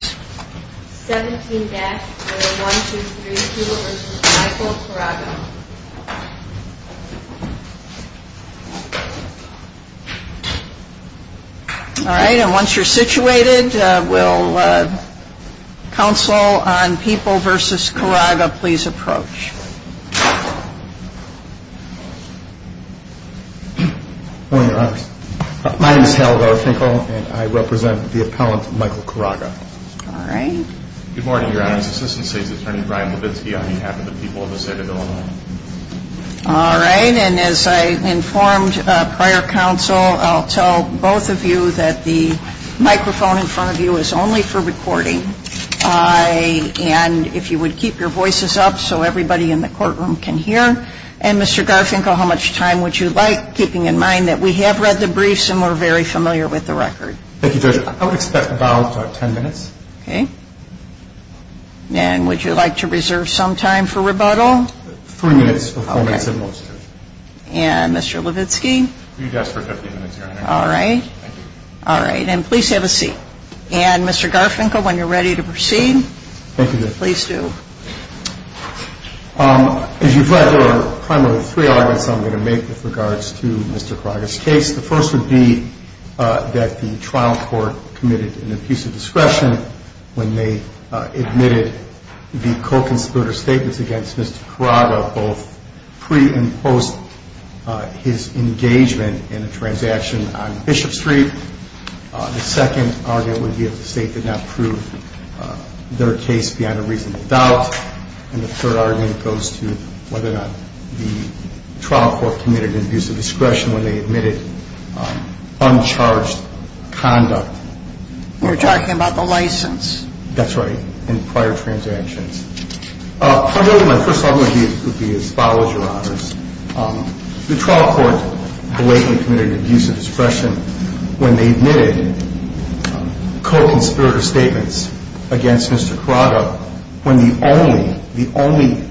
All right. And once you're situated, will counsel on People v. Caraga please approach? Good morning, Your Honors. My name is Harold R. Finkel, and I represent the appellant Michael Caraga. All right. Good morning, Your Honors. Assistant State's Attorney Brian Levitsky on behalf of the people of the state of Illinois. All right. And as I informed prior counsel, I'll tell both of you that the microphone in front of you is only for recording. And if you would keep your voices up so everybody in the courtroom can hear. And Mr. Garfinkel, how much time would you like, keeping in mind that we have read the briefs and we're very familiar with the record? Thank you, Judge. I would expect about 10 minutes. Okay. And would you like to reserve some time for rebuttal? Three minutes for four minutes at most, Judge. And Mr. Levitsky? Three deaths for 15 minutes, Your Honor. All right. Thank you. All right. And please have a seat. And Mr. Garfinkel, when you're ready to proceed, please do. As you've read, there are primarily three arguments I'm going to make with regards to Mr. Caraga's case. The first would be that the trial court committed an abuse of discretion when they admitted the co-consolidator statements against Mr. Caraga, both pre and post his engagement in a transaction on Bishop Street. The second argument would be if the State did not prove their case beyond a reasonable doubt. And the third argument goes to whether or not the trial court committed an abuse of discretion when they admitted uncharged conduct. You're talking about the license? That's right. And prior transactions. Primarily, my first argument would be as follows, Your Honors. The trial court blatantly committed an abuse of discretion when they admitted co-consolidator statements against Mr. Caraga when the only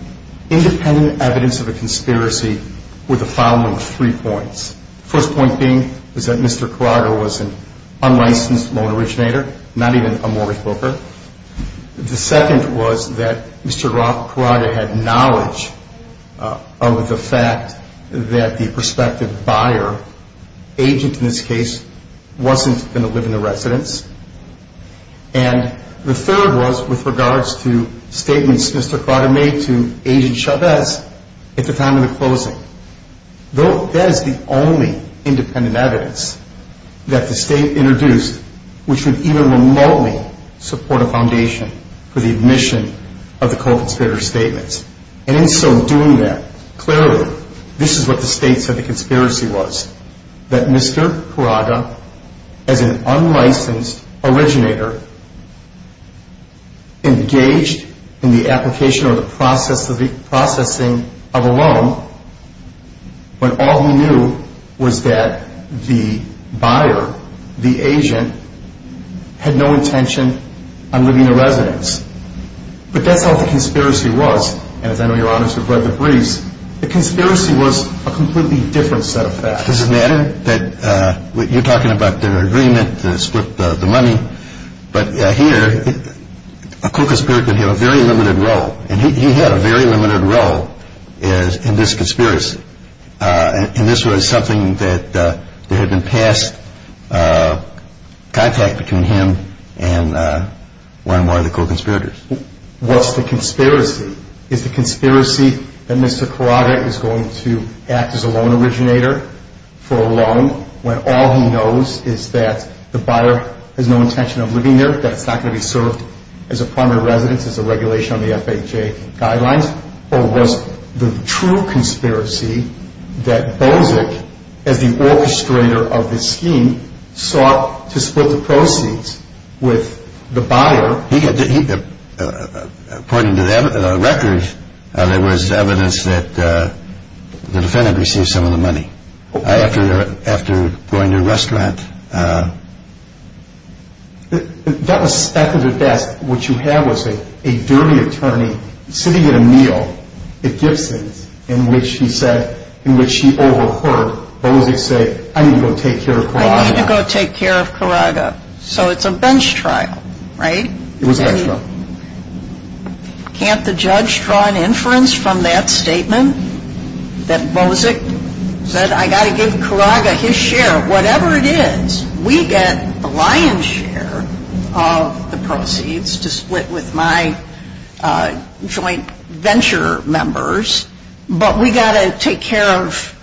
independent evidence of a conspiracy were the following three points. The first point being was that Mr. Caraga was an unlicensed loan originator, not even a mortgage broker. The second was that Mr. Caraga had knowledge of the fact that the prospective buyer, agent in this case, wasn't going to live in the residence. And the third was with regards to statements Mr. Caraga made to Agent Chavez at the time of the closing. Though that is the only independent evidence that the State introduced which would even remotely support a foundation for the admission of the co-consolidator statements. And in so doing that, clearly, this is what the State said the conspiracy was. That Mr. Caraga, as an unlicensed originator, engaged in the application or the processing of a loan when all he knew was that the buyer, the agent, had no intention on living in the residence. But that's how the conspiracy was. And as I know, Your Honors, you've read the briefs, the conspiracy was a completely different set of facts. Does it matter that you're talking about their agreement to split the money? But here, a co-conspirator could have a very limited role. And he had a very limited role in this conspiracy. And this was something that there had been past contact between him and one more of the co-conspirators. What's the conspiracy? Is the conspiracy that Mr. Caraga is going to act as a loan originator for a loan when all he knows is that the buyer has no intention of living there, that it's not going to be served as a primary residence, as a regulation on the FHA guidelines? Or was the true conspiracy that Bozic, as the orchestrator of this scheme, sought to split the proceeds with the buyer? According to the record, there was evidence that the defendant received some of the money after going to a restaurant. That was at the desk. What you have was a dirty attorney sitting at a meal at Gibson's in which he said, in which he overheard Bozic say, I need to go take care of Caraga. I need to go take care of Caraga. So it's a bench trial, right? It was a bench trial. Can't the judge draw an inference from that statement that Bozic said, I've got to give Caraga his share of whatever it is? We get the lion's share of the proceeds to split with my joint venture members, but we've got to take care of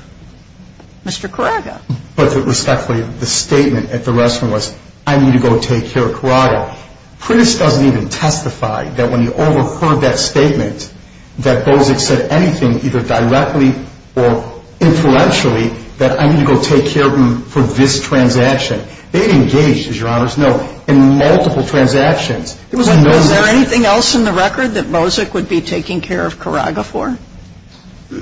Mr. Caraga. But respectfully, the statement at the restaurant was, I need to go take care of Caraga. Prince doesn't even testify that when he overheard that statement, that Bozic said anything either directly or influentially that I need to go take care of him for this transaction. They engaged, as your honors know, in multiple transactions. Was there anything else in the record that Bozic would be taking care of Caraga for?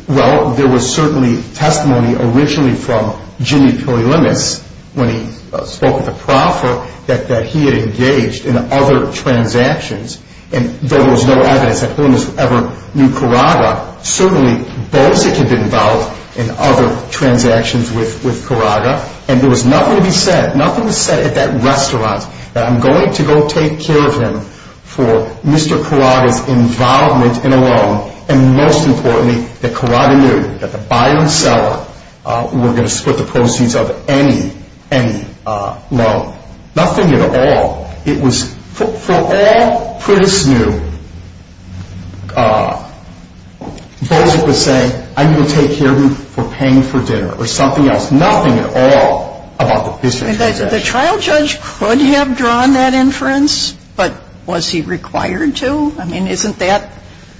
Well, there was certainly testimony originally from Jimmy Pirulimus, when he spoke with the prophet, that he had engaged in other transactions. And there was no evidence that Pirulimus ever knew Caraga. Certainly, Bozic had been involved in other transactions with Caraga. And there was nothing to be said, nothing to be said at that restaurant, that I'm going to go take care of him for Mr. Caraga's involvement in a loan, and most importantly, that Caraga knew that the buyer and seller were going to split the proceeds of any, any loan. Nothing at all. It was, for all Prince knew, Bozic was saying, I need to take care of him for paying for dinner, or something else. Nothing at all about the business transaction. The trial judge could have drawn that inference, but was he required to? I mean, isn't that,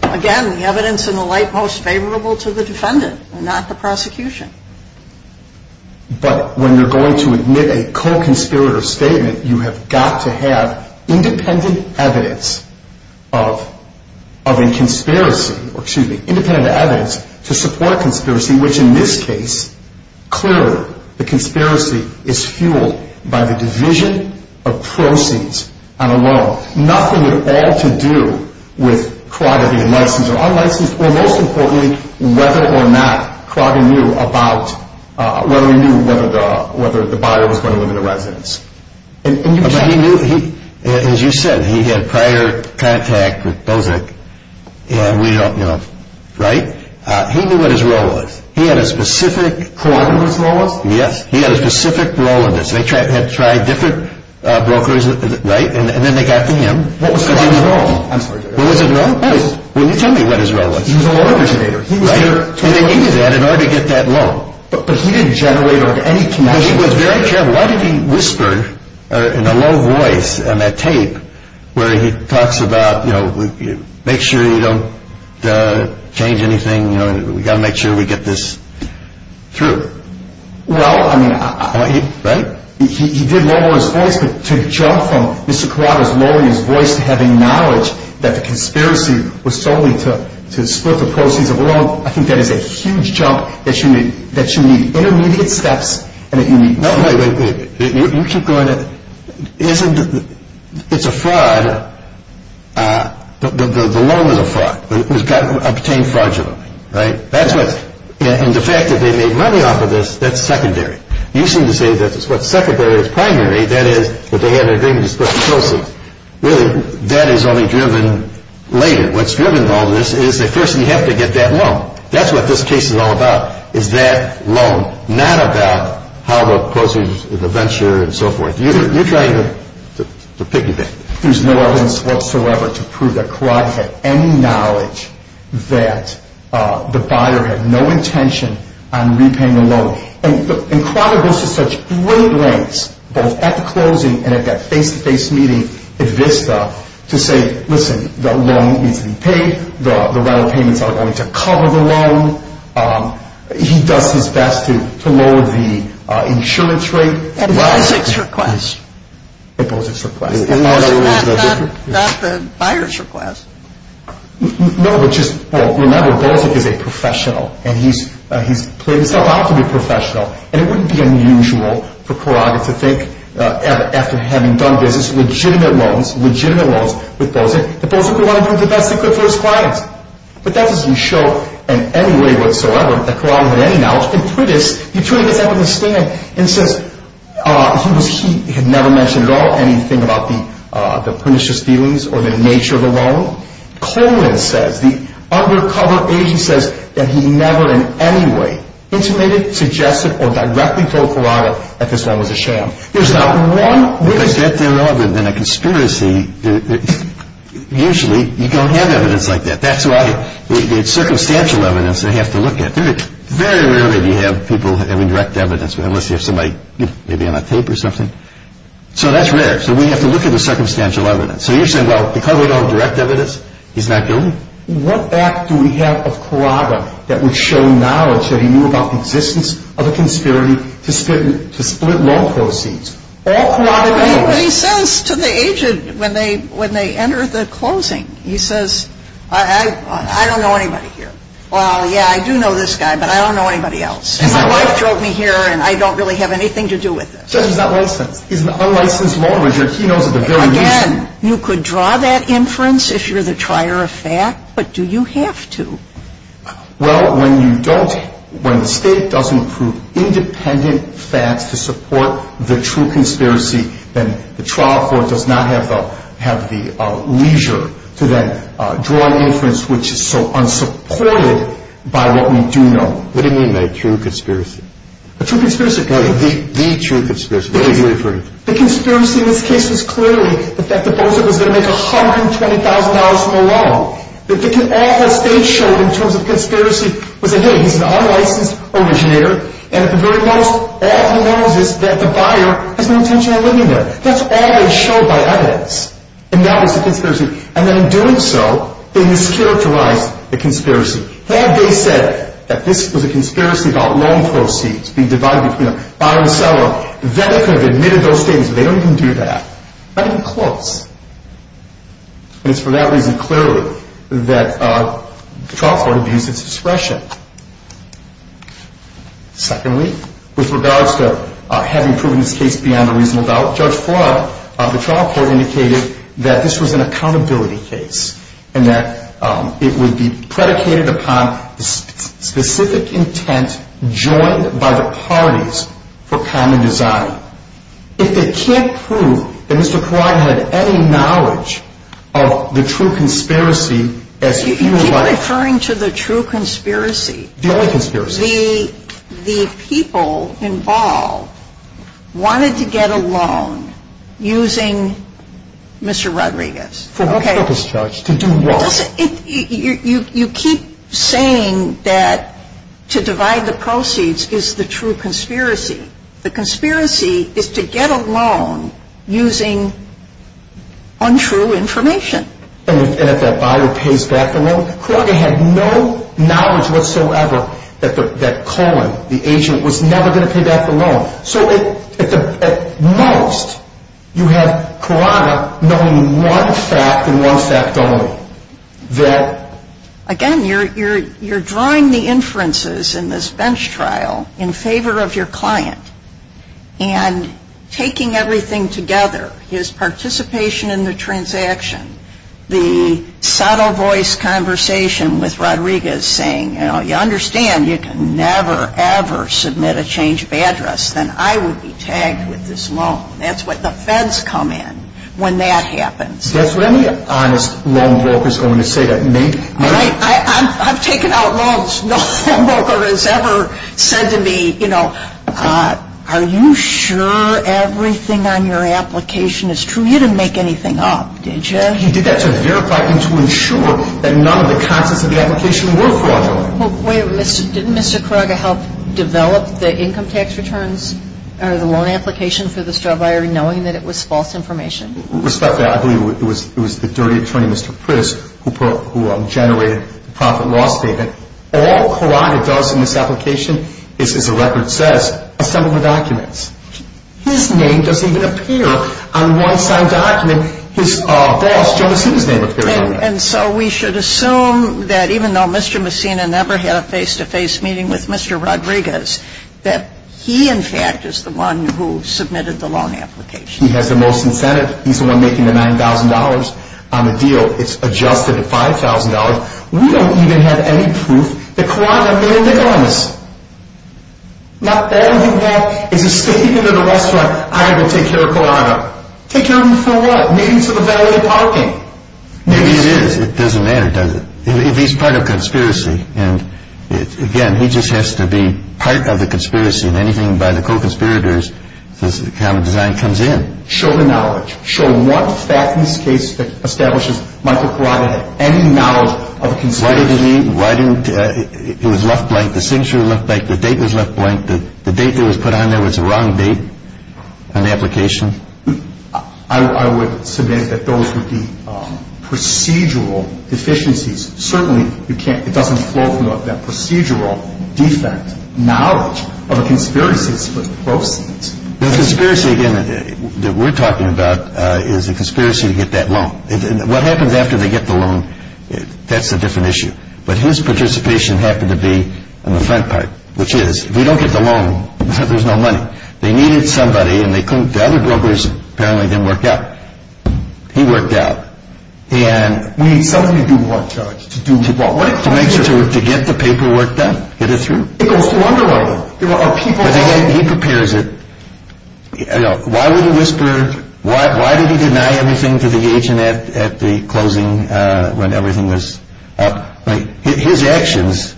again, the evidence in the light most favorable to the defendant, not the prosecution? But when you're going to admit a co-conspirator statement, you have got to have independent evidence of, of a conspiracy, or excuse me, independent evidence to support a conspiracy, which in this case, clearly, the conspiracy is fueled by the division of proceeds on a loan. Nothing at all to do with Caraga being licensed or unlicensed, or most importantly, whether or not Caraga knew about, whether he knew whether the, whether the buyer was going to live in the residence. But he knew, he, as you said, he had prior contact with Bozic, and we don't know, right? He knew what his role was. He had a specific... What was his role? Yes. He had a specific role in this. They tried, had tried different brokers, right? And then they got to him. What was his role? What was his role? I'm sorry. What was his role? Oh, well, you tell me what his role was. He was a loan originator. Right. And he knew that, in order to get that loan. But, but he didn't generate any connection. No, he was very careful. Why did he whisper, in a low voice, on that tape, where he talks about, you know, make sure you don't change anything, you know, we've got to make sure we get this through? Well, I mean, I... Right? He, he did lower his voice, but to jump from Mr. Corrado's lowering his voice to having knowledge that the conspiracy was solely to, to split the proceeds of a loan, I think that is a huge jump, that you need, that you need intermediate steps, and that you need... No, wait, wait, wait. You keep going to... Isn't... It's a fraud. The loan is a fraud. It was obtained fraudulently. Right? That's what... And the fact that they made money off of this, that's secondary. You seem to say that what's secondary is primary, that is, that they had an agreement to split the proceeds. Really, that is only driven later. What's driven all this is that first you have to get that loan. That's what this case is all about, is that loan. Not about how the proceeds of the venture and so forth. You're trying to piggyback. There's no evidence whatsoever to prove that Corrado had any knowledge that the buyer had no intention on repaying the loan. And Corrado goes to such great lengths, both at the closing and at that face-to-face meeting at Vista, to say, listen, the loan needs to be paid. The rental payments are going to cover the loan. He does his best to lower the insurance rate. It poses a request. It poses a request. That's not the buyer's request. No, but just, well, remember, Bozic is a professional. And he's played himself out to be professional. And it wouldn't be unusual for Corrado to think, after having done business, legitimate loans, legitimate loans with Bozic, that Bozic would want to do the best he could for his clients. But that doesn't show in any way whatsoever that Corrado had any knowledge. The attorney gets up in his stand and says he had never mentioned at all anything about the pernicious dealings or the nature of the loan. Colan says, the undercover agent says that he never in any way intimated, suggested, or directly told Corrado that this loan was a sham. There's not one witness. Is that there other than a conspiracy? Usually you don't have evidence like that. That's why it's circumstantial evidence they have to look at. Very rarely do you have people having direct evidence, unless you have somebody maybe on a tape or something. So that's rare. So we have to look at the circumstantial evidence. So you're saying, well, because we don't have direct evidence, he's not guilty? What act do we have of Corrado that would show knowledge that he knew about the existence of a conspiracy to split loan proceeds? All Corrado knows. He says to the agent when they enter the closing, he says, I don't know anybody here. Well, yeah, I do know this guy, but I don't know anybody else. My wife drove me here, and I don't really have anything to do with this. The judge is not licensed. He's an unlicensed loaner. He knows at the very least. Again, you could draw that inference if you're the trier of fact, but do you have to? Well, when you don't – when the State doesn't prove independent facts to support the true conspiracy, then the trial court does not have the leisure to then draw an inference which is so unsupported by what we do know. What do you mean by a true conspiracy? A true conspiracy. The true conspiracy. The conspiracy in this case was clearly the fact that Bosick was going to make $120,000 from a loan. All that State showed in terms of conspiracy was that, hey, he's an unlicensed originator, and at the very most, all he knows is that the buyer has no intention of living there. That's all they showed by evidence, and that was the conspiracy. And in doing so, they mischaracterized the conspiracy. Had they said that this was a conspiracy about loan proceeds being divided between a buyer and seller, then they could have admitted those statements, but they don't even do that. Not even close. And it's for that reason, clearly, that the trial court abused its discretion. Secondly, with regards to having proven this case beyond a reasonable doubt, Judge Flan, the trial court indicated that this was an accountability case and that it would be predicated upon specific intent joined by the parties for common design. If they can't prove that Mr. Kaurian had any knowledge of the true conspiracy, as if he were lying. You keep referring to the true conspiracy. The only conspiracy. The people involved wanted to get a loan using Mr. Rodriguez. For what purpose, Judge? To do what? You keep saying that to divide the proceeds is the true conspiracy. The conspiracy is to get a loan using untrue information. And if that buyer pays back the loan? Kaurian had no knowledge whatsoever that Cohen, the agent, was never going to pay back the loan. So at most, you had Kaurian knowing one fact and one fact only. Again, you're drawing the inferences in this bench trial in favor of your client. And taking everything together, his participation in the transaction, the subtle voice conversation with Rodriguez saying, you know, you understand you can never, ever submit a change of address, then I would be tagged with this loan. That's what the feds come in when that happens. Is that what any honest loan broker is going to say? I've taken out loans. No home broker has ever said to me, you know, are you sure everything on your application is true? You didn't make anything up, did you? He did that to verify and to ensure that none of the contents of the application were fraudulent. Well, wait a minute. Didn't Mr. Kaurian help develop the income tax returns or the loan application for this drug buyer knowing that it was false information? Respectfully, I believe it was the dirty attorney, Mr. Pritz, who generated the profit loss statement. All Kaurian does in this application is, as the record says, assemble the documents. His name doesn't even appear on one signed document. His boss, Joe Messina's name appears on that. And so we should assume that even though Mr. Messina never had a face-to-face meeting with Mr. Rodriguez, that he, in fact, is the one who submitted the loan application. He has the most incentive. He's the one making the $9,000 on the deal. It's adjusted to $5,000. We don't even have any proof that Kaurian mailed the guns. Not that we have. It's a statement at a restaurant. I'm going to take care of Kaurian. Take care of him for what? Take him to the valet parking. Maybe it is. It doesn't matter, does it? If he's part of a conspiracy. And, again, he just has to be part of the conspiracy. And anything by the co-conspirators, this kind of design comes in. Show the knowledge. Show one fact in this case that establishes Michael Kaurian had any knowledge of a conspiracy. Why didn't he? Why didn't he? It was left blank. The signature was left blank. The date was left blank. The date that was put on there was the wrong date on the application. I would submit that those would be procedural deficiencies. Certainly it doesn't flow from that procedural defect knowledge of a conspiracy to split proceeds. The conspiracy, again, that we're talking about is a conspiracy to get that loan. What happens after they get the loan, that's a different issue. But his participation happened to be on the front part, which is if we don't get the loan, there's no money. They needed somebody, and the other brokers apparently didn't work out. He worked out. We need somebody to do what, Judge? To get the paperwork done, get it through. It goes through underwriting. He prepares it. Why would he whisper? Why did he deny everything to the agent at the closing when everything was up? His actions,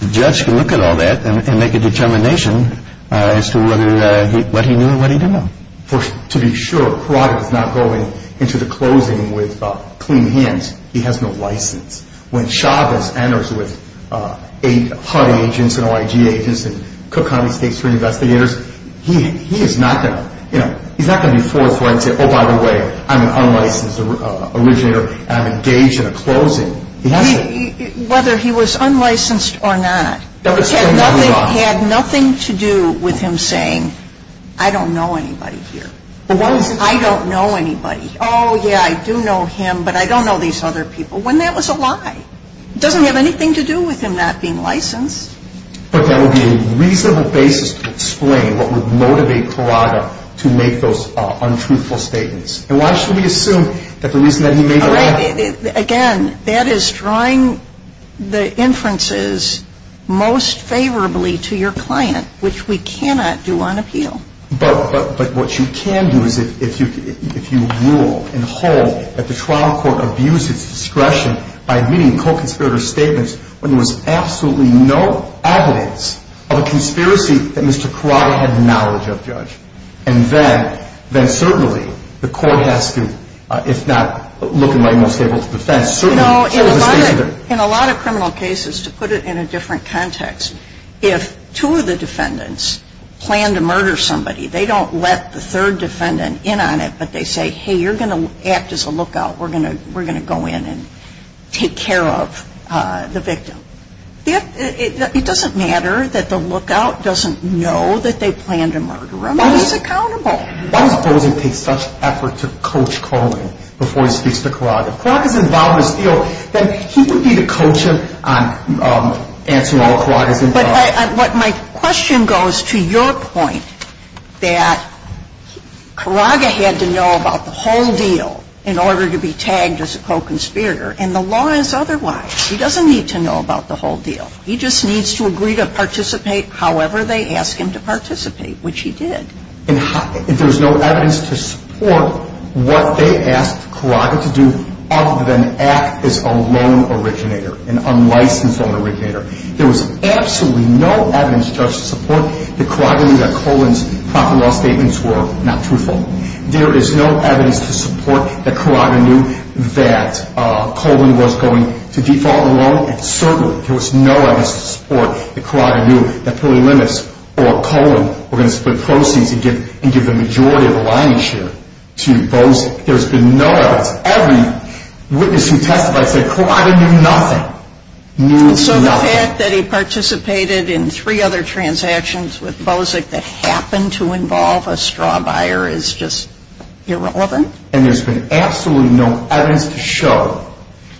the judge can look at all that and make a determination as to what he knew and what he didn't know. To be sure, Karate does not go into the closing with clean hands. He has no license. When Chavez enters with HUD agents and OIG agents and Cook County State Supreme Investigators, he is not going to be forthright and say, oh, by the way, I'm an unlicensed originator, and I'm engaged in a closing. Whether he was unlicensed or not had nothing to do with him saying, I don't know anybody here. I don't know anybody. Oh, yeah, I do know him, but I don't know these other people, when that was a lie. It doesn't have anything to do with him not being licensed. But that would be a reasonable basis to explain what would motivate Karate to make those untruthful statements. And why should we assume that the reason that he made that lie? Again, that is drawing the inferences most favorably to your client, which we cannot do on appeal. But what you can do is if you rule and hold that the trial court abused its discretion by meeting co-conspirator statements when there was absolutely no evidence of a conspiracy that Mr. Karate had knowledge of, Judge, and then certainly the court has to, if not look at my most capable defense, certainly show the statement. In a lot of criminal cases, to put it in a different context, if two of the defendants plan to murder somebody, they don't let the third defendant in on it, but they say, hey, you're going to act as a lookout. We're going to go in and take care of the victim. It doesn't matter that the lookout doesn't know that they plan to murder him. He's accountable. Why does Bozin take such effort to coach Cohen before he speaks to Karage? If Karage is involved in this deal, then he would need to coach him on answering all Karage's inquiries. But my question goes to your point that Karage had to know about the whole deal in order to be tagged as a co-conspirator. And the law is otherwise. He doesn't need to know about the whole deal. He just needs to agree to participate however they ask him to participate, which he did. And there's no evidence to support what they asked Karage to do other than act as a lone originator, an unlicensed lone originator. There was absolutely no evidence, Judge, to support that Karage knew that Cohen's property law statements were not truthful. There is no evidence to support that Karage knew that Cohen was going to default the loan. And certainly there was no evidence to support that Karage knew that Philly Limits or Cohen were going to split proceeds and give the majority of the line share to Bozin. There's been no evidence. Every witness who testified said Karage knew nothing, knew nothing. So the fact that he participated in three other transactions with Bozic that happened to involve a straw buyer is just irrelevant? And there's been absolutely no evidence to show.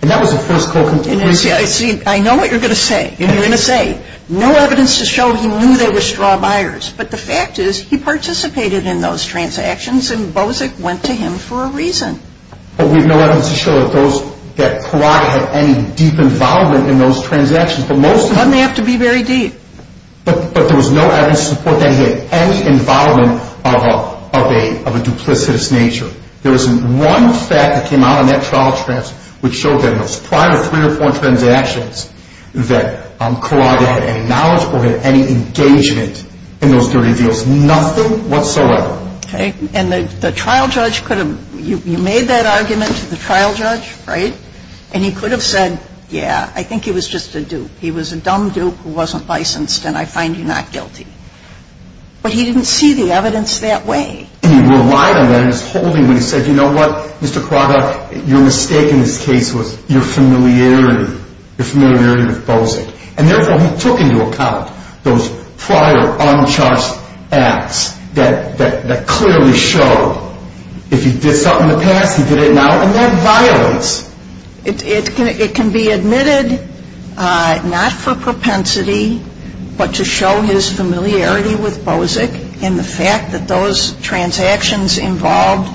And that was the first co-conspirator. I know what you're going to say. You're going to say, no evidence to show he knew they were straw buyers. But the fact is he participated in those transactions and Bozic went to him for a reason. But we have no evidence to show that Karage had any deep involvement in those transactions. But most of them... Doesn't have to be very deep. But there was no evidence to support that he had any involvement of a duplicitous nature. There was one fact that came out in that trial, which showed that in those prior three or four transactions, that Karage had any knowledge or had any engagement in those dirty deals. Nothing whatsoever. Okay. And the trial judge could have... You made that argument to the trial judge, right? And he could have said, yeah, I think he was just a dupe. He was a dumb dupe who wasn't licensed and I find you not guilty. But he didn't see the evidence that way. And he relied on that. And he was holding when he said, you know what, Mr. Karage, your mistake in this case was your familiarity. Your familiarity with Bozic. And therefore he took into account those prior uncharged acts that clearly show if he did something in the past, he did it now, and that violence. It can be admitted not for propensity, but to show his familiarity with Bozic and the fact that those transactions involved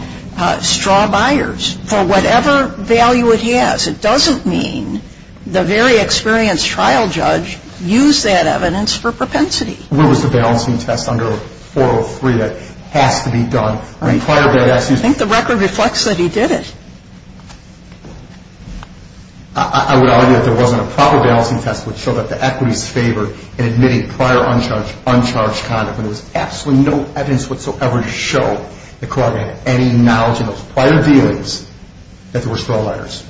straw buyers for whatever value it has. It doesn't mean the very experienced trial judge used that evidence for propensity. What was the balancing test under 403 that has to be done? I think the record reflects that he did it. I would argue that there wasn't a proper balancing test which showed that the equities favored in admitting prior uncharged conduct. There was absolutely no evidence whatsoever to show that Karage had any knowledge in those prior dealings that there were straw buyers.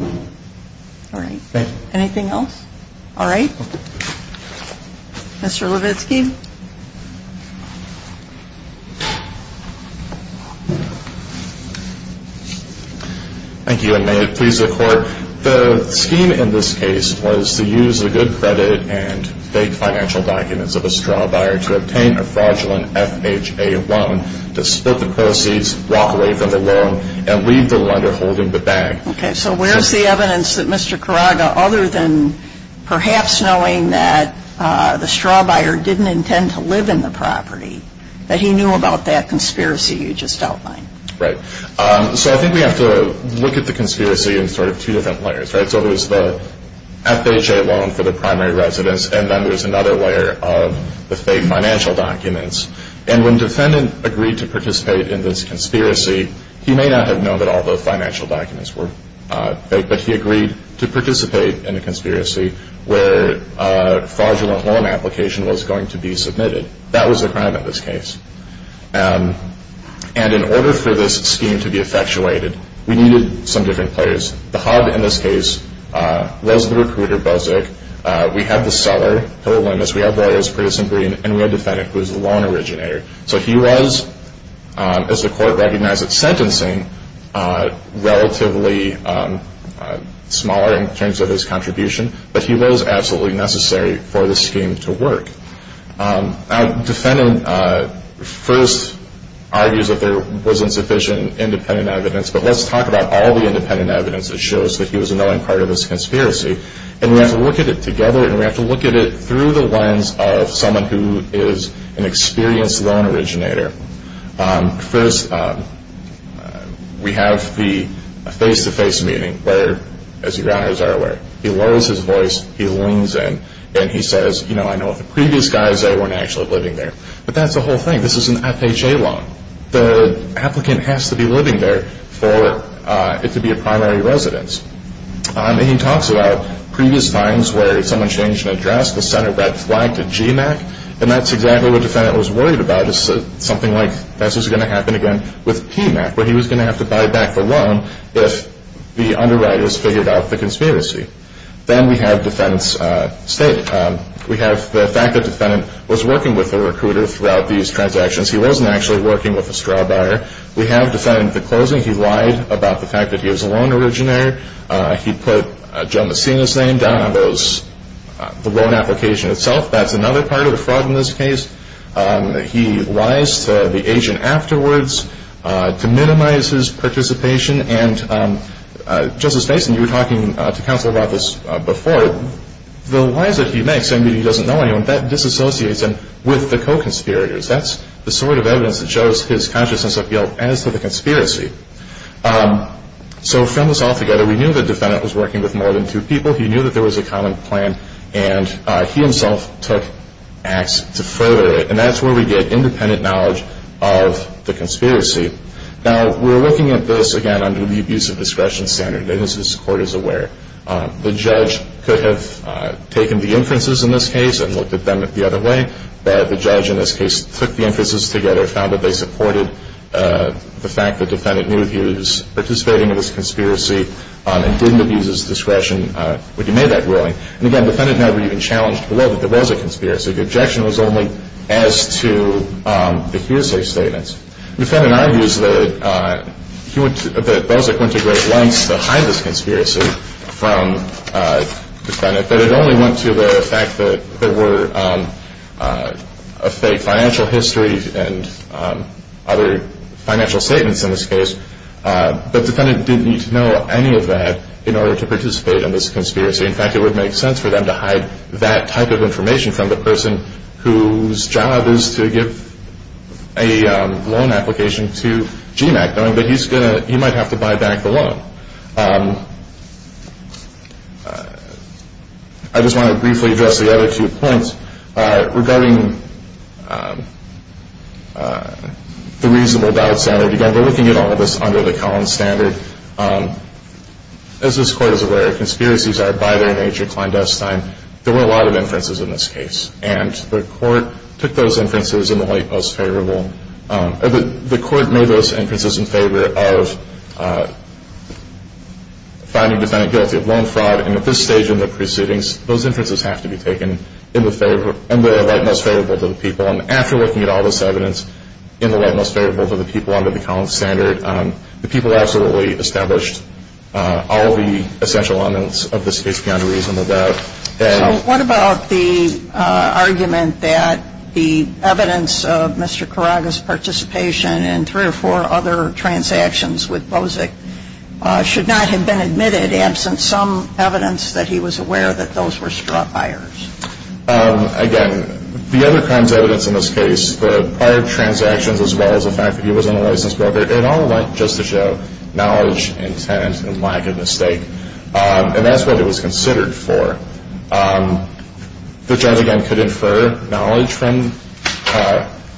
Okay. All right. Thank you. Anything else? All right. Mr. Levitsky. Thank you, and may it please the Court. The scheme in this case was to use the good credit and fake financial documents of a straw buyer to obtain a fraudulent FHA loan, to split the proceeds, walk away from the loan, and leave the lender holding the bag. Okay. So where's the evidence that Mr. Karage, other than perhaps knowing that the straw buyer didn't intend to live in the property, that he knew about that conspiracy you just outlined? Right. So I think we have to look at the conspiracy in sort of two different layers, right? So there's the FHA loan for the primary residence, and then there's another layer of the fake financial documents. And when the defendant agreed to participate in this conspiracy, he may not have known that all the financial documents were fake, but he agreed to participate in a conspiracy where a fraudulent loan application was going to be submitted. That was the crime in this case. And in order for this scheme to be effectuated, we needed some different players. The hub in this case was the recruiter, Buzik. We had the seller, Hill Lemus. We had lawyers, Pritz and Green. And we had the defendant, who was the loan originator. So he was, as the Court recognized at sentencing, relatively smaller in terms of his contribution, but he was absolutely necessary for the scheme to work. Now, the defendant first argues that there wasn't sufficient independent evidence, but let's talk about all the independent evidence that shows that he was a knowing part of this conspiracy. And we have to look at it together, and we have to look at it through the lens of someone who is an experienced loan originator. First, we have the face-to-face meeting where, as you guys are aware, he lowers his voice, he leans in, and he says, you know, I know the previous guys, they weren't actually living there. But that's the whole thing. This is an FHA loan. The applicant has to be living there for it to be a primary residence. And he talks about previous times where someone changed an address, the center red flagged a GMAC, and that's exactly what the defendant was worried about, something like this was going to happen again with PMAC, where he was going to have to buy back the loan if the underwriters figured out the conspiracy. Then we have the fact that the defendant was working with a recruiter throughout these transactions. He wasn't actually working with a straw buyer. We have the fact at the closing he lied about the fact that he was a loan originator. He put Joe Messina's name down on the loan application itself. That's another part of the fraud in this case. He lies to the agent afterwards to minimize his participation. And, Justice Mason, you were talking to counsel about this before. The lies that he makes, saying that he doesn't know anyone, that disassociates him with the co-conspirators. That's the sort of evidence that shows his consciousness of guilt as to the conspiracy. So from this all together, we knew the defendant was working with more than two people. He knew that there was a common plan, and he himself took action to further it. And that's where we get independent knowledge of the conspiracy. Now, we're looking at this, again, under the abuse of discretion standard, and as this Court is aware, the judge could have taken the inferences in this case and looked at them the other way. But the judge in this case took the inferences together, found that they supported the fact that the defendant knew he was participating in this conspiracy and didn't abuse his discretion when he made that ruling. And, again, the defendant never even challenged the law that there was a conspiracy. The objection was only as to the hearsay statements. The defendant argues that Bozek went to great lengths to hide this conspiracy from the defendant, that it only went to the fact that there were financial histories and other financial statements in this case. But the defendant didn't need to know any of that in order to participate in this conspiracy. In fact, it would make sense for them to hide that type of information from the person whose job is to give a loan application to GMAC knowing that he might have to buy back the loan. I just want to briefly address the other two points regarding the reasonable doubt standard. Again, we're looking at all of this under the Collins standard. As this Court is aware, conspiracies are, by their nature, clandestine. There were a lot of inferences in this case. And the Court took those inferences in the light most favorable. The Court made those inferences in favor of finding the defendant guilty of loan fraud. And at this stage in the proceedings, those inferences have to be taken in the light most favorable to the people. And after looking at all this evidence in the light most favorable to the people under the Collins standard, the people absolutely established all the essential elements of this case beyond a reasonable doubt. So what about the argument that the evidence of Mr. Carraga's participation in three or four other transactions with Bozek should not have been admitted absent some evidence that he was aware that those were straw buyers? Again, the other kinds of evidence in this case, the prior transactions as well as the fact that he wasn't a licensed broker, it all went just to show knowledge and intent and lack of mistake. And that's what it was considered for. The judge, again, could infer knowledge from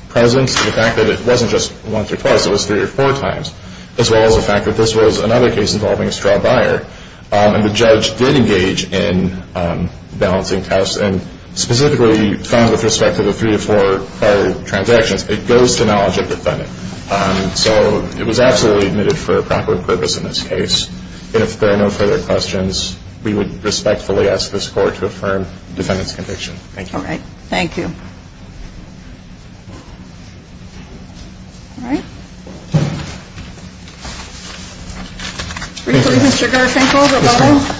presence to the fact that it wasn't just once or twice, it was three or four times, as well as the fact that this was another case involving a straw buyer. And the judge did engage in balancing tests and specifically found with respect to the three or four prior transactions, And that's what it was considered for. And it goes to knowledge of the defendant. So it was absolutely admitted for a proper purpose in this case. If there are no further questions, we would respectfully ask this Court to affirm the defendant's conviction. Thank you. All right. Thank you. All right. Briefly, Mr. Gershenko, go ahead.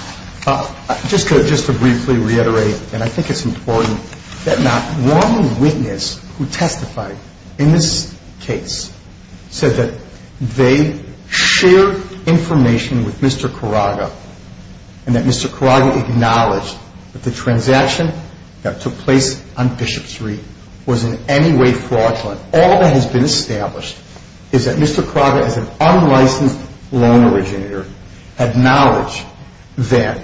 Yes, ma'am. Just to briefly reiterate, and I think it's important, that not one witness who testified in this case said that they shared information with Mr. Carraga and that Mr. Carraga acknowledged that the transaction that took place on Bishop Street was in any way fraudulent. All that has been established is that Mr. Carraga, as an unlicensed loan originator, had knowledge that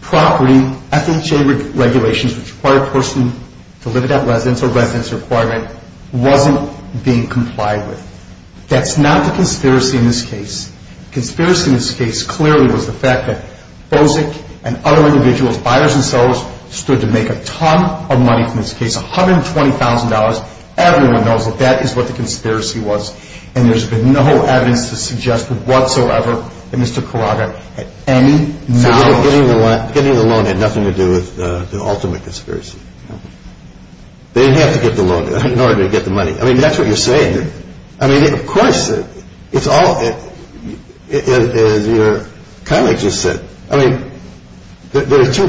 property FHA regulations, which require a person to live without residence or residence requirement, wasn't being complied with. That's not the conspiracy in this case. The conspiracy in this case clearly was the fact that BOSIC and other individuals, buyers and sellers, stood to make a ton of money from this case, $120,000. Everyone knows that that is what the conspiracy was. And there's been no evidence to suggest whatsoever that Mr. Carraga had any knowledge. Getting the loan had nothing to do with the ultimate conspiracy. They didn't have to get the loan in order to get the money. I mean, that's what you're saying. I mean, of course, it's all, as your colleague just said, I mean, there are two,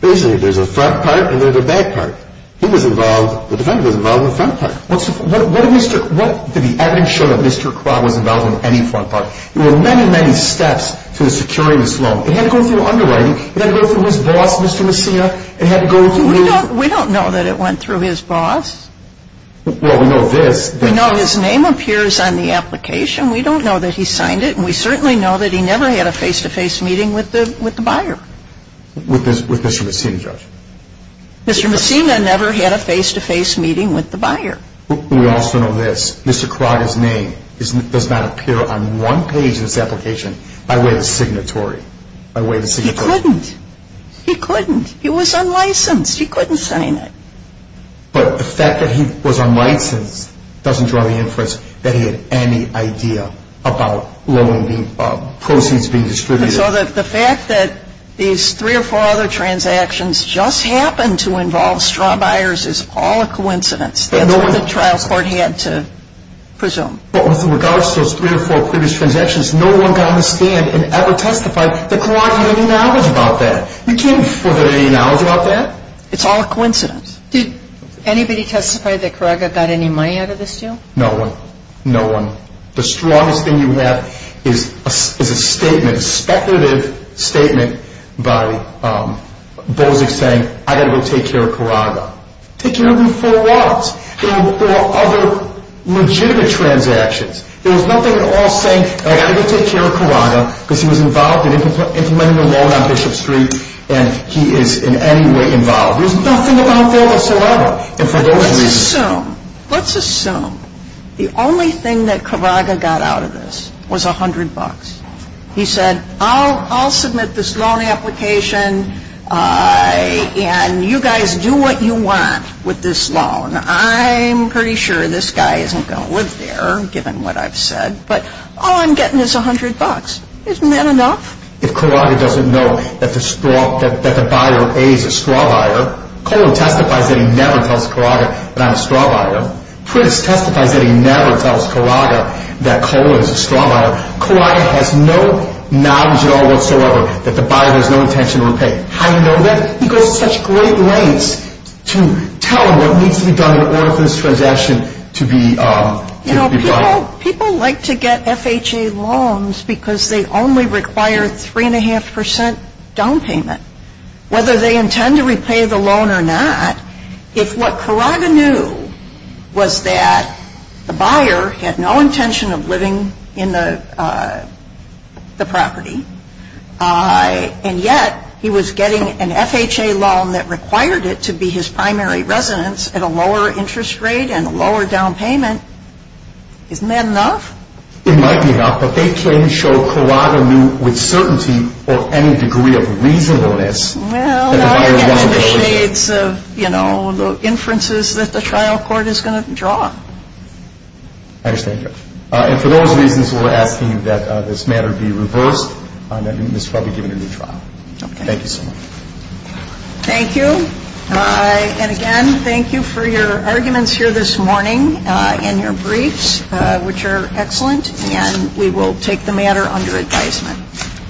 basically there's a front part and there's a back part. He was involved, the defendant was involved in the front part. What did the evidence show that Mr. Carraga was involved in any front part? There were many, many steps to securing this loan. It had to go through underwriting. It had to go through his boss, Mr. Messina. We don't know that it went through his boss. Well, we know this. We know his name appears on the application. We don't know that he signed it. And we certainly know that he never had a face-to-face meeting with the buyer. With Mr. Messina, Judge? Mr. Messina never had a face-to-face meeting with the buyer. We also know this. Mr. Carraga's name does not appear on one page of this application by way of the signatory. He couldn't. He couldn't. He was unlicensed. He couldn't sign it. But the fact that he was unlicensed doesn't draw the inference that he had any idea about proceeds being distributed. So the fact that these three or four other transactions just happened to involve straw buyers is all a coincidence. That's what the trial court had to presume. But with regards to those three or four previous transactions, no one got on the stand and ever testified that Carraga had any knowledge about that. We can't infer that he had any knowledge about that. It's all a coincidence. Did anybody testify that Carraga got any money out of this deal? No one. No one. The strongest thing you have is a statement, a speculative statement, by Bosig saying, I've got to go take care of Carraga. Take care of him for what? For other legitimate transactions. There was nothing at all saying, I've got to go take care of Carraga, because he was involved in implementing a loan on Bishop Street and he is in any way involved. There's nothing about Phil to celebrate. Let's assume, let's assume the only thing that Carraga got out of this was $100. He said, I'll submit this loan application and you guys do what you want with this loan. I'm pretty sure this guy isn't going to live there, given what I've said, but all I'm getting is $100. Isn't that enough? If Carraga doesn't know that the buyer A is a straw buyer, Colon testifies that he never tells Carraga that I'm a straw buyer. Prince testifies that he never tells Carraga that Colon is a straw buyer. Carraga has no knowledge at all whatsoever that the buyer has no intention of repaying. How do you know that? He goes to such great lengths to tell him what needs to be done in order for this transaction to be brought. Well, people like to get FHA loans because they only require 3.5% down payment. Whether they intend to repay the loan or not, if what Carraga knew was that the buyer had no intention of living in the property and yet he was getting an FHA loan that required it to be his primary residence at a lower interest rate and a lower down payment, isn't that enough? It might be enough, but they claim to show Carraga knew with certainty or any degree of reasonableness that the buyer wasn't going to live there. Well, now you're getting in the shades of, you know, the inferences that the trial court is going to draw. I understand, Judge. And for those reasons, we're asking that this matter be reversed. This trial be given a new trial. Thank you so much. Thank you. And again, thank you for your arguments here this morning and your briefs, which are excellent. And we will take the matter under advisement.